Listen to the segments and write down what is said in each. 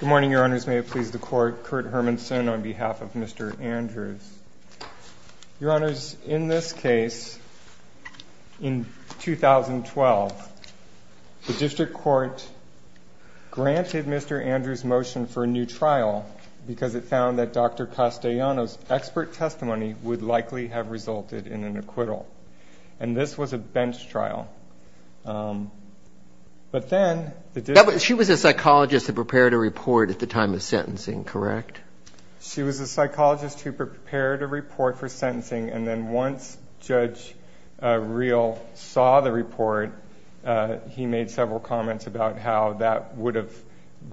Good morning, Your Honors. May it please the Court, Kurt Hermanson on behalf of Mr. Andrews. Your Honors, in this case, in 2012, the District Court granted Mr. Andrews' motion for a new trial because it found that Dr. Castellano's expert testimony would likely have resulted in an acquittal. And this was a bench trial. She was a psychologist who prepared a report at the time of sentencing, correct? She was a psychologist who prepared a report for sentencing, and then once Judge Reel saw the report, he made several comments about how that would have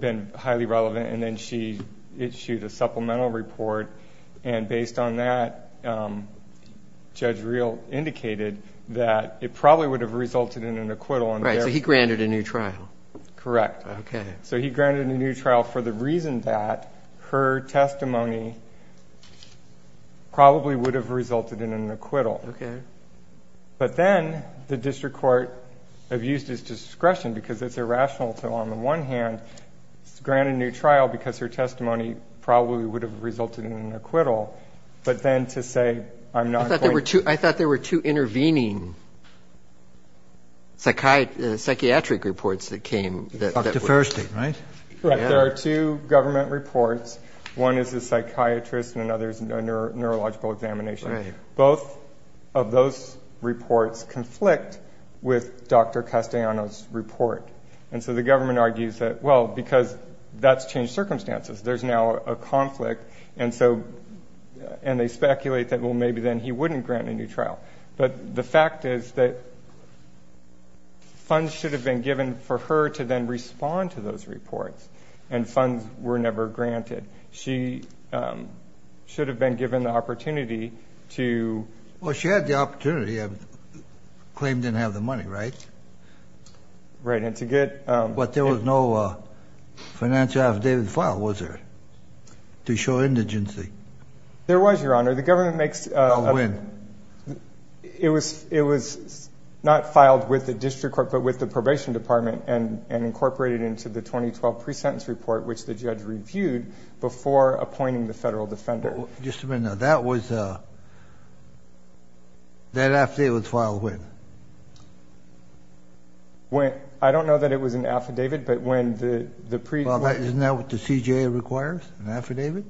been highly relevant, and then she issued a supplemental report. And based on that, Judge Reel indicated that it probably would have resulted in an acquittal. Right, so he granted a new trial. Correct. Okay. So he granted a new trial for the reason that her testimony probably would have resulted in an acquittal. Okay. But then the District Court abused its discretion because it's irrational to, on the one hand, grant a new trial because her testimony probably would have resulted in an acquittal, but then to say I'm not going to. I thought there were two intervening psychiatric reports that came that were. Dr. Furstein, right? Correct. There are two government reports. One is a psychiatrist and another is a neurological examination. Right. Both of those reports conflict with Dr. Castellano's report. And so the government argues that, well, because that's changed circumstances. There's now a conflict, and they speculate that, well, maybe then he wouldn't grant a new trial. But the fact is that funds should have been given for her to then respond to those reports, and funds were never granted. She should have been given the opportunity to... Well, she had the opportunity. The claim didn't have the money, right? Right, and to get... But there was no financial affidavit filed, was there, to show indigency? There was, Your Honor. The government makes... Now when? It was not filed with the District Court but with the Probation Department and incorporated into the 2012 pre-sentence report, which the judge reviewed, before appointing the federal defender. Just a minute now. That was... that affidavit was filed when? I don't know that it was an affidavit, but when the pre-court... Well, isn't that what the CJA requires, an affidavit?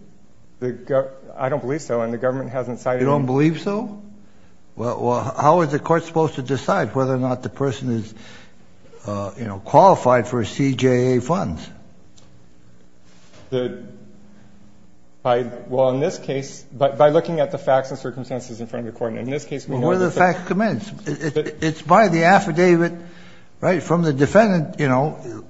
I don't believe so, and the government hasn't cited... You don't believe so? Well, how is the court supposed to decide whether or not the person is qualified for CJA funds? The... well, in this case, by looking at the facts and circumstances in front of the court, in this case... Well, where do the facts commence? It's by the affidavit, right, from the defendant, you know,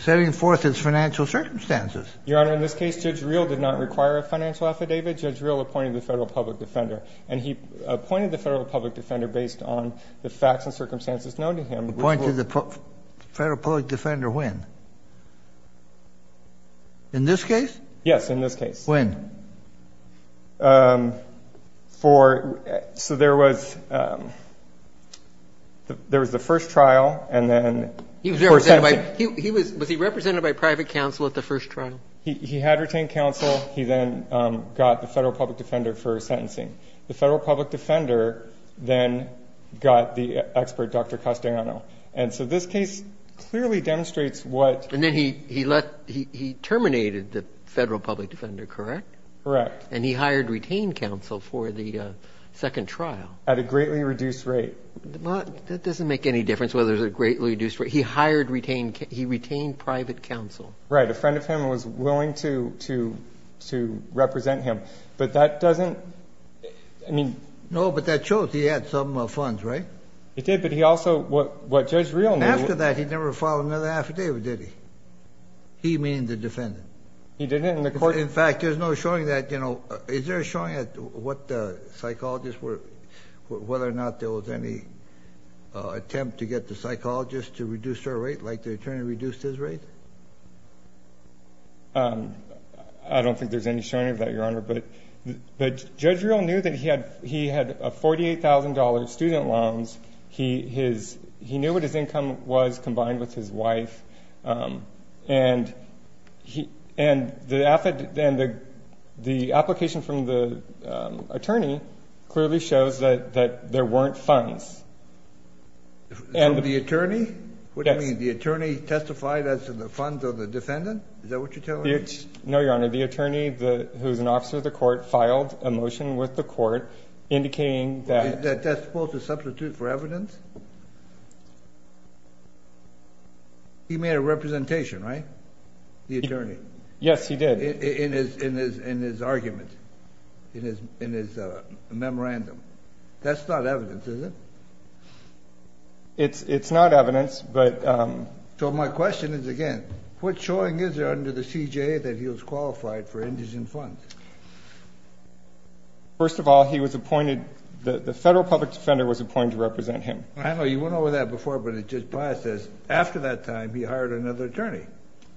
setting forth its financial circumstances. Your Honor, in this case, Judge Reel did not require a financial affidavit. Judge Reel appointed the federal public defender, and he appointed the federal public defender based on the facts and circumstances known to him. Appointed the federal public defender when? In this case? Yes, in this case. When? For... so there was... there was the first trial, and then... He was represented by... he was... was he represented by private counsel at the first trial? He had retained counsel. He then got the federal public defender for sentencing. The federal public defender then got the expert, Dr. Castellano. And so this case clearly demonstrates what... And then he let... he terminated the federal public defender, correct? Correct. And he hired retained counsel for the second trial? At a greatly reduced rate. That doesn't make any difference whether it's a greatly reduced rate. He hired retained... he retained private counsel. Right, a friend of him was willing to represent him. But that doesn't... I mean... No, but that shows he had some funds, right? He did, but he also... what Judge Reel... After that, he never filed another affidavit, did he? He, meaning the defendant? He didn't, and the court... In fact, there's no showing that, you know... Is there a showing at what the psychologists were... whether or not there was any attempt to get the psychologists to reduce their rate like the attorney reduced his rate? I don't think there's any showing of that, Your Honor. But Judge Reel knew that he had $48,000 student loans. He knew what his income was combined with his wife. And the application from the attorney clearly shows that there weren't funds. From the attorney? Yes. You're saying the attorney testified as to the funds of the defendant? Is that what you're telling me? No, Your Honor. The attorney, who's an officer of the court, filed a motion with the court indicating that... That that's supposed to substitute for evidence? He made a representation, right? The attorney. Yes, he did. In his argument, in his memorandum. That's not evidence, is it? It's not evidence, but... So, my question is, again, what showing is there under the CJA that he was qualified for indigent funds? First of all, he was appointed... the federal public defender was appointed to represent him. I know. You went over that before, but it just passes. After that time, he hired another attorney.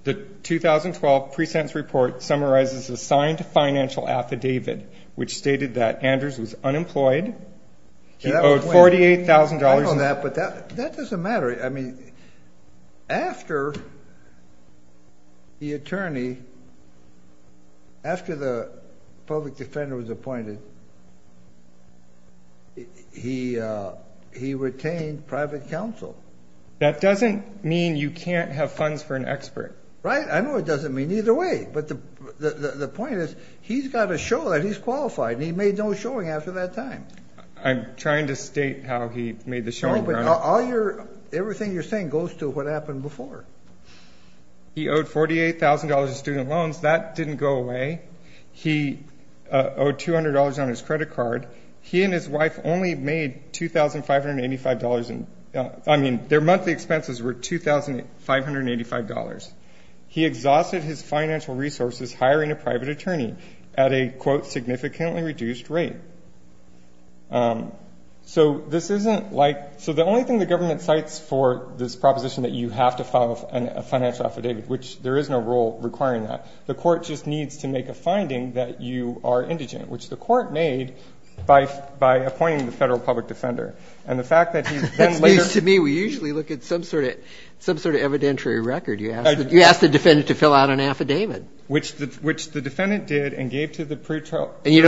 The 2012 pre-sentence report summarizes a signed financial affidavit, which stated that Andrews was unemployed. He owed $48,000. I know that, but that doesn't matter. I mean, after the attorney... after the public defender was appointed, he retained private counsel. That doesn't mean you can't have funds for an expert. Right. I know it doesn't mean either way, but the point is, he's got to show that he's qualified, and he made no showing after that time. I'm trying to state how he made the showing, Your Honor. No, but all your... everything you're saying goes to what happened before. He owed $48,000 in student loans. That didn't go away. He owed $200 on his credit card. He and his wife only made $2,585 in... I mean, their monthly expenses were $2,585. He exhausted his financial resources hiring a private attorney at a, quote, significantly reduced rate. So this isn't like... so the only thing the government cites for this proposition that you have to file a financial affidavit, which there is no rule requiring that, the court just needs to make a finding that you are indigent, which the court made by appointing the federal public defender. And the fact that he then later... You asked the defendant to fill out an affidavit. Which the defendant did and gave to the pretrial... And you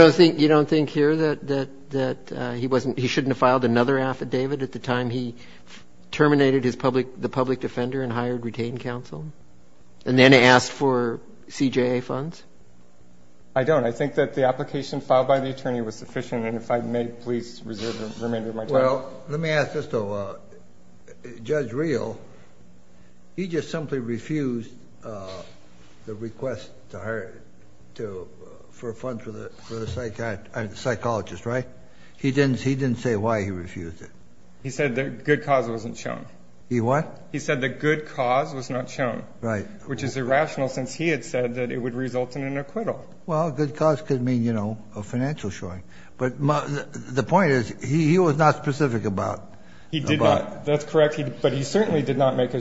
don't think here that he wasn't... he shouldn't have filed another affidavit at the time he terminated his public... the public defender and hired retained counsel and then asked for CJA funds? I don't. I think that the application filed by the attorney was sufficient, and if I may, please reserve the remainder of my time. Well, let me ask this, though. Judge Reel, he just simply refused the request to hire... to... for funds for the psychologist, right? He didn't say why he refused it. He said the good cause wasn't shown. He what? He said the good cause was not shown. Right. Which is irrational since he had said that it would result in an acquittal. Well, good cause could mean, you know, a financial showing. But the point is, he was not specific about... He did not. That's correct. But he certainly did not make a...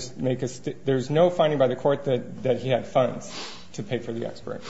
there's no finding by the Court that he had funds to pay for the expert.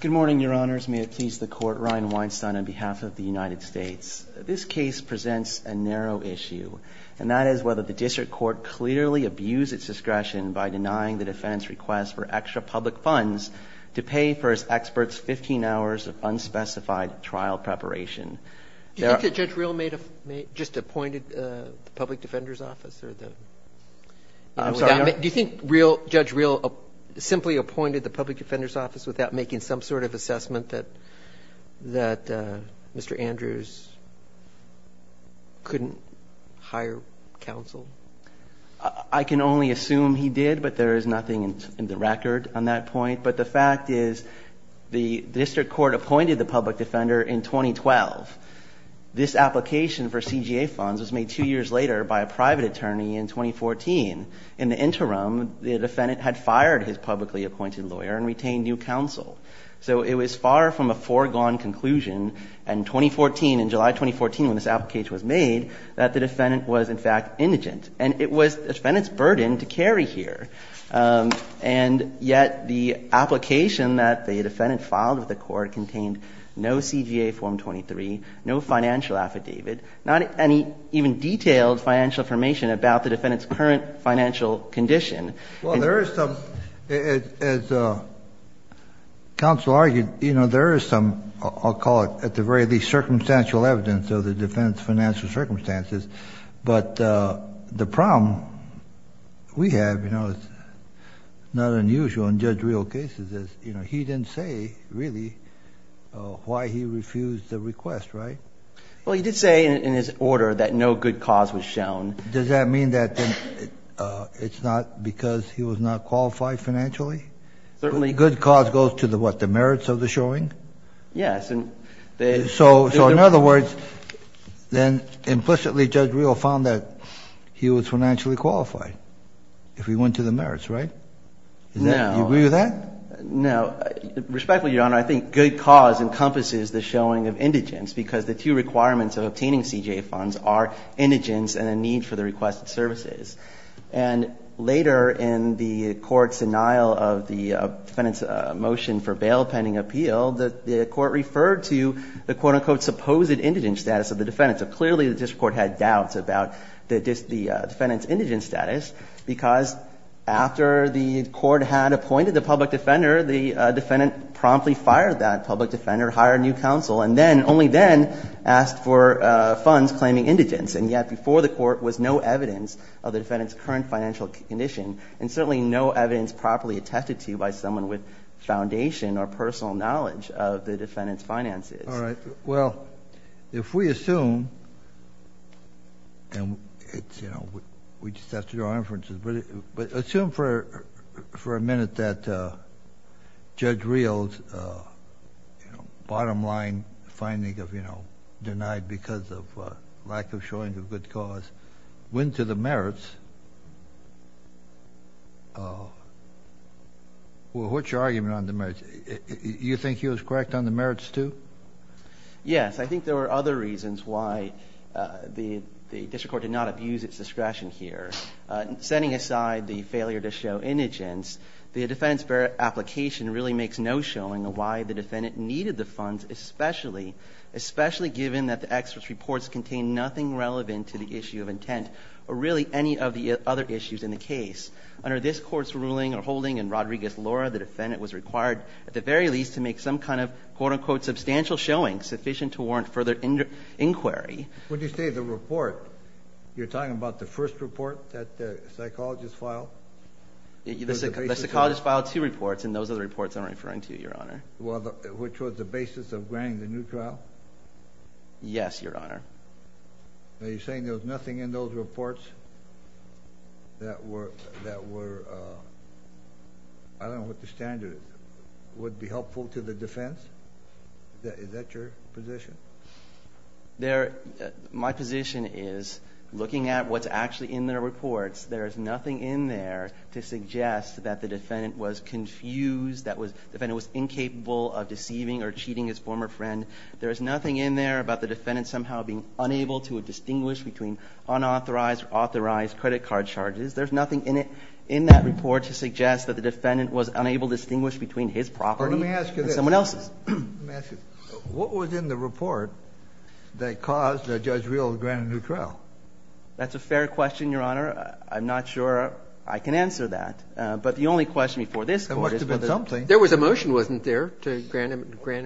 Good morning, Your Honors. May it please the Court. Ryan Weinstein on behalf of the United States. This case presents a narrow issue, and that is whether the district court clearly abused its discretion by denying the defendant's request for extra public funds to pay for his expert's 15 hours of unspecified trial preparation. Do you think that Judge Reel made a... just appointed the public defender's office or the... I'm sorry. Do you think Judge Reel simply appointed the public defender's office without making some sort of assessment that Mr. Andrews couldn't hire counsel? I can only assume he did, but there is nothing in the record on that point. But the fact is, the district court appointed the public defender in 2012. This application for CGA funds was made two years later by a private attorney in 2014. In the interim, the defendant had fired his publicly appointed lawyer and retained new counsel. So it was far from a foregone conclusion in 2014, in July 2014, when this application was made, that the defendant was in fact indigent. And it was the defendant's burden to carry here. And yet the application that the defendant filed with the Court contained no CGA form 23, no financial affidavit, not any even detailed financial information about the defendant's current financial condition. Well, there is some. As counsel argued, you know, there is some, I'll call it, at the very least, circumstantial evidence of the defendant's financial circumstances. But the problem we have, you know, is not unusual in Judge Reel cases, is, you know, he didn't say really why he refused the request, right? Well, he did say in his order that no good cause was shown. Does that mean that it's not because he was not qualified financially? Certainly. Good cause goes to the what, the merits of the showing? Yes. So in other words, then implicitly Judge Reel found that he was financially qualified if he went to the merits, right? No. Do you agree with that? No. Respectfully, Your Honor, I think good cause encompasses the showing of indigence because the two requirements of obtaining CJA funds are indigence and a need for the requested services. And later in the Court's denial of the defendant's motion for bail pending appeal, the Court referred to the quote, unquote, supposed indigent status of the defendant. So clearly the district court had doubts about the defendant's indigent status because after the Court had appointed the public defender, the defendant promptly fired that public defender, hired a new counsel, and then, only then, asked for funds claiming indigence. And yet before the Court was no evidence of the defendant's current financial condition, and certainly no evidence properly attested to by someone with foundation or personal knowledge of the defendant's finances. All right. Well, if we assume, and it's, you know, we just have to do our inferences. But assume for a minute that Judge Rios' bottom line finding of, you know, denied because of lack of showing of good cause went to the merits. Well, what's your argument on the merits? Do you think he was correct on the merits, too? Yes. I think there were other reasons why the district court did not abuse its discretion here. Setting aside the failure to show indigence, the defendant's application really makes no showing of why the defendant needed the funds, especially given that the experts' reports contain nothing relevant to the issue of intent or really any of the other issues in the case. Under this Court's ruling or holding in Rodriguez-Lura, the defendant was required at the very least to make some kind of, quote, unquote, substantial showing sufficient to warrant further inquiry. When you say the report, you're talking about the first report that the psychologist filed? The psychologist filed two reports, and those are the reports I'm referring to, Your Honor. Well, which was the basis of granting the new trial? Yes, Your Honor. Are you saying there was nothing in those reports that were, I don't know what the standard is, would be helpful to the defense? Is that your position? My position is, looking at what's actually in the reports, there is nothing in there to suggest that the defendant was confused, that the defendant was incapable of deceiving or cheating his former friend. There is nothing in there about the defendant somehow being unable to distinguish between unauthorized or authorized credit card charges. There's nothing in that report to suggest that the defendant was unable to distinguish between his property and someone else's. Let me ask you, what was in the report that caused Judge Reel to grant a new trial? That's a fair question, Your Honor. I'm not sure I can answer that, but the only question before this Court is whether There must have been something. There was a motion, wasn't there, to grant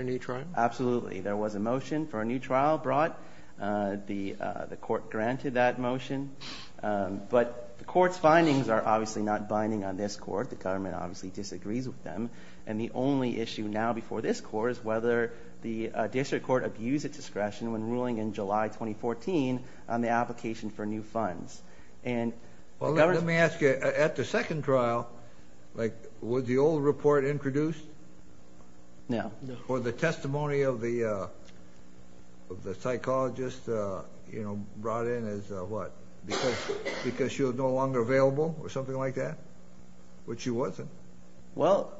a new trial? Absolutely. There was a motion for a new trial brought. The Court granted that motion. But the Court's findings are obviously not binding on this Court. The government obviously disagrees with them. The only issue now before this Court is whether the District Court abused its discretion when ruling in July 2014 on the application for new funds. Let me ask you, at the second trial, was the old report introduced? No. Or the testimony of the psychologist brought in as what? Because she was no longer available or something like that? But she wasn't. Well,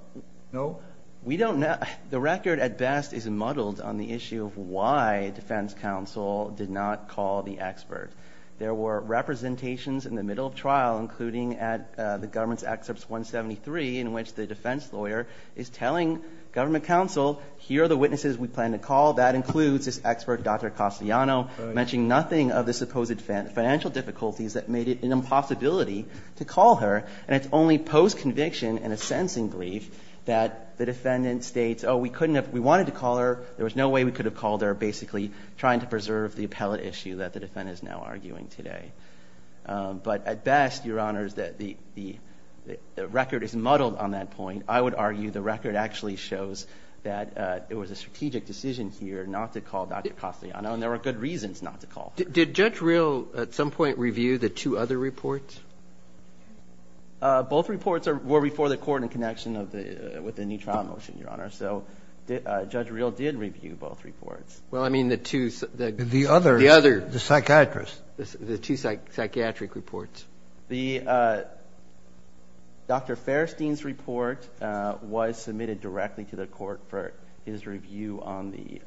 we don't know. The record at best is muddled on the issue of why defense counsel did not call the expert. There were representations in the middle of trial, including at the government's excerpts 173, in which the defense lawyer is telling government counsel, here are the witnesses we plan to call. That includes this expert, Dr. Castellano, mentioning nothing of the supposed financial difficulties that made it an impossibility to call her. And it's only post-conviction in a sentencing brief that the defendant states, oh, we couldn't have – we wanted to call her. There was no way we could have called her, basically trying to preserve the appellate issue that the defendant is now arguing today. But at best, Your Honors, the record is muddled on that point. I would argue the record actually shows that it was a strategic decision here not to call Dr. Castellano, and there were good reasons not to call her. Did Judge Reel at some point review the two other reports? Both reports were before the court in connection with the new trial motion, Your Honor. So Judge Reel did review both reports. Well, I mean the two – The other. The other. The psychiatrist. The two psychiatric reports. The – Dr. Fairstein's report was submitted directly to the court for his review on the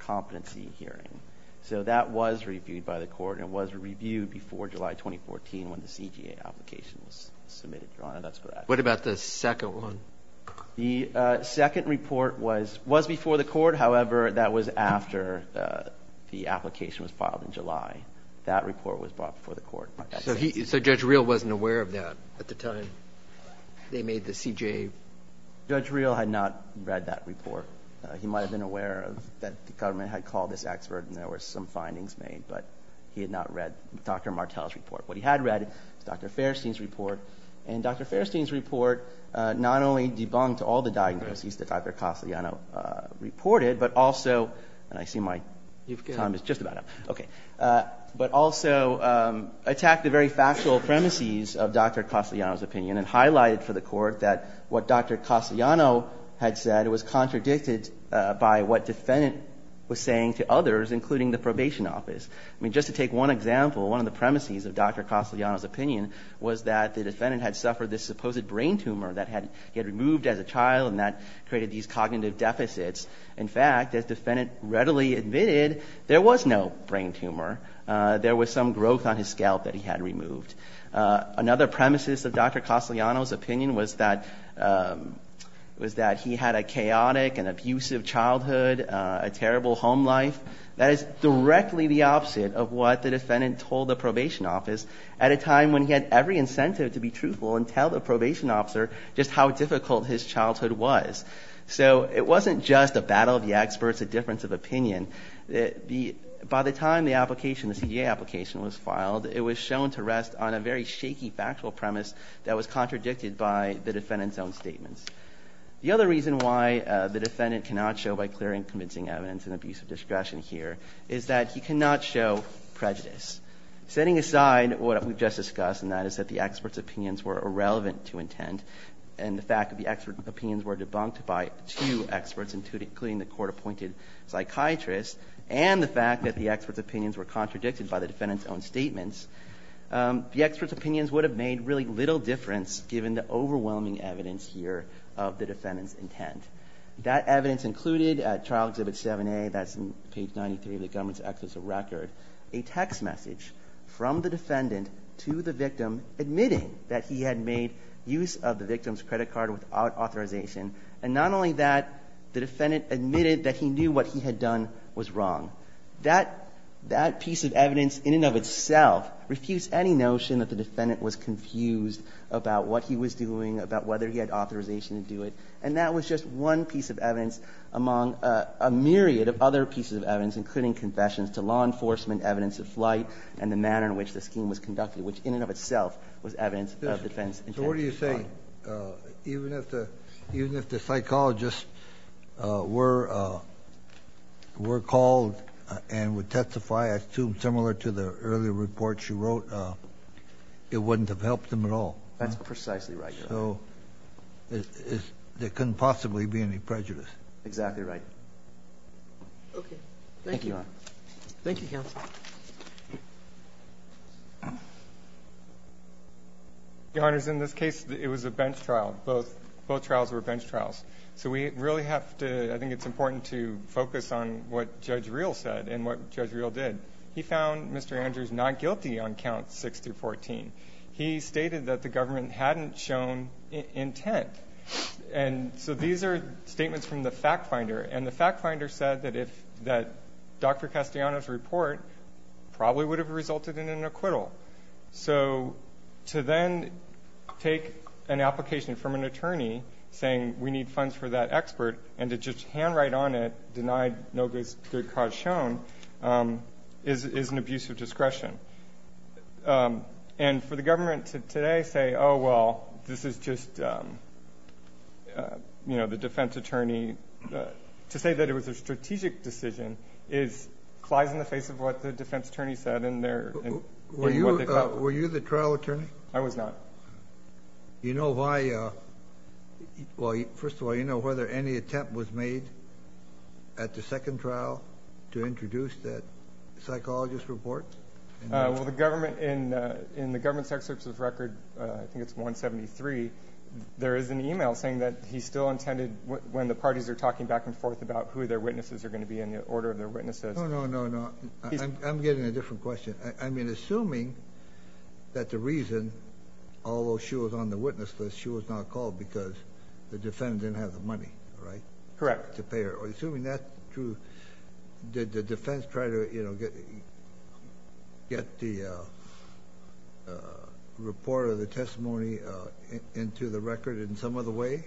competency hearing. So that was reviewed by the court, and it was reviewed before July 2014 when the CJA application was submitted, Your Honor. That's what I – What about the second one? The second report was before the court. However, that was after the application was filed in July. That report was brought before the court. So Judge Reel wasn't aware of that at the time they made the CJA – Judge Reel had not read that report. He might have been aware that the government had called this expert and there were some findings made, but he had not read Dr. Martel's report. What he had read was Dr. Fairstein's report, and Dr. Fairstein's report not only debunked all the diagnoses that Dr. Castellano reported, but also – and I see my time is just about up. Okay. But also attacked the very factual premises of Dr. Castellano's opinion and highlighted for the court that what Dr. Castellano had said was contradicted by what the defendant was saying to others, including the probation office. I mean, just to take one example, one of the premises of Dr. Castellano's opinion was that the defendant had suffered this supposed brain tumor that had been removed as a child and that created these cognitive deficits. In fact, the defendant readily admitted there was no brain tumor. There was some growth on his scalp that he had removed. Another premises of Dr. Castellano's opinion was that he had a chaotic and abusive childhood, a terrible home life. That is directly the opposite of what the defendant told the probation office at a time when he had every incentive to be truthful and tell the probation officer just how difficult his childhood was. So it wasn't just a battle of the experts, a difference of opinion. By the time the application, the CJA application was filed, it was shown to rest on a very shaky factual premise that was contradicted by the defendant's own statements. The other reason why the defendant cannot show by clear and convincing evidence an abuse of discretion here is that he cannot show prejudice. Setting aside what we've just discussed, and that is that the expert's opinions were irrelevant to intent and the fact that the expert's opinions were debunked by two experts, including the court-appointed psychiatrist, and the fact that the expert's opinions were contradicted by the defendant's own statements, the expert's opinions would have made really little difference given the overwhelming evidence here of the defendant's intent. That evidence included at Trial Exhibit 7A, that's page 93 of the government's exorcism record, a text message from the defendant to the victim admitting that he had made use of the victim's credit card without authorization, and not only that, the defendant admitted that he knew what he had done was wrong. That piece of evidence in and of itself refused any notion that the defendant was confused about what he was doing, about whether he had authorization to do it, and that was just one piece of evidence among a myriad of other pieces of evidence, including confessions to law enforcement, evidence of flight, and the manner in which the scheme was conducted, which in and of itself was evidence of the defendant's intent. So what are you saying? Even if the psychologists were called and would testify, I assume similar to the earlier report she wrote, it wouldn't have helped them at all. That's precisely right. So there couldn't possibly be any prejudice. Exactly right. Okay. Thank you. Thank you, Counsel. Your Honors, in this case, it was a bench trial. Both trials were bench trials. So we really have to – I think it's important to focus on what Judge Reel said and what Judge Reel did. He found Mr. Andrews not guilty on Counts 6 through 14. He stated that the government hadn't shown intent. And so these are statements from the fact finder, and the fact finder said that Dr. Castellano's report probably would have resulted in an acquittal. So to then take an application from an attorney saying we need funds for that expert and to just handwrite on it, deny no good cause shown, is an abuse of discretion. And for the government today to say, oh, well, this is just the defense attorney – to say that it was a strategic decision lies in the face of what the defense attorney said. Were you the trial attorney? I was not. You know why – well, first of all, you know whether any attempt was made at the second trial to introduce that psychologist report? Well, the government – in the government's excerpt of the record, I think it's 173, there is an email saying that he still intended when the parties are talking back and forth about who their witnesses are going to be and the order of their witnesses. No, no, no, no. I'm getting a different question. I mean, assuming that the reason, although she was on the witness list, she was not called because the defendant didn't have the money, right? Correct. Assuming that's true, did the defense try to, you know, get the report or the testimony into the record in some other way,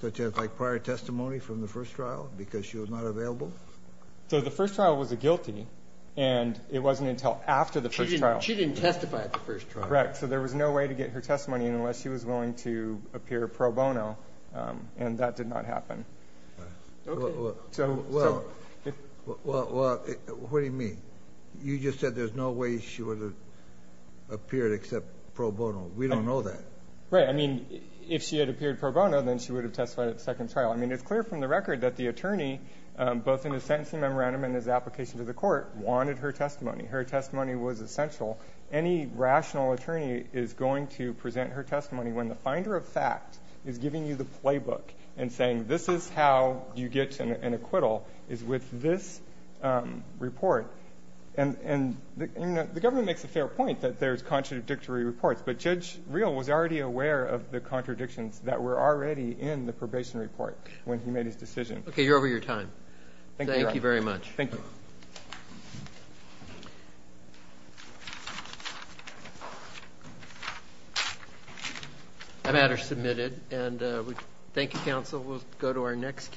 such as like prior testimony from the first trial because she was not available? So the first trial was a guilty, and it wasn't until after the first trial. She didn't testify at the first trial. Correct. Yeah, so there was no way to get her testimony unless she was willing to appear pro bono, and that did not happen. Okay. Well, what do you mean? You just said there's no way she would have appeared except pro bono. We don't know that. Right. I mean, if she had appeared pro bono, then she would have testified at the second trial. I mean, it's clear from the record that the attorney, both in his sentencing memorandum and his application to the court, wanted her testimony. Her testimony was essential. Any rational attorney is going to present her testimony when the finder of fact is giving you the playbook and saying, this is how you get an acquittal, is with this report. And the government makes a fair point that there's contradictory reports, but Judge Real was already aware of the contradictions that were already in the probation report when he made his decision. Okay, you're over your time. Thank you. Thank you very much. Thank you. Thank you.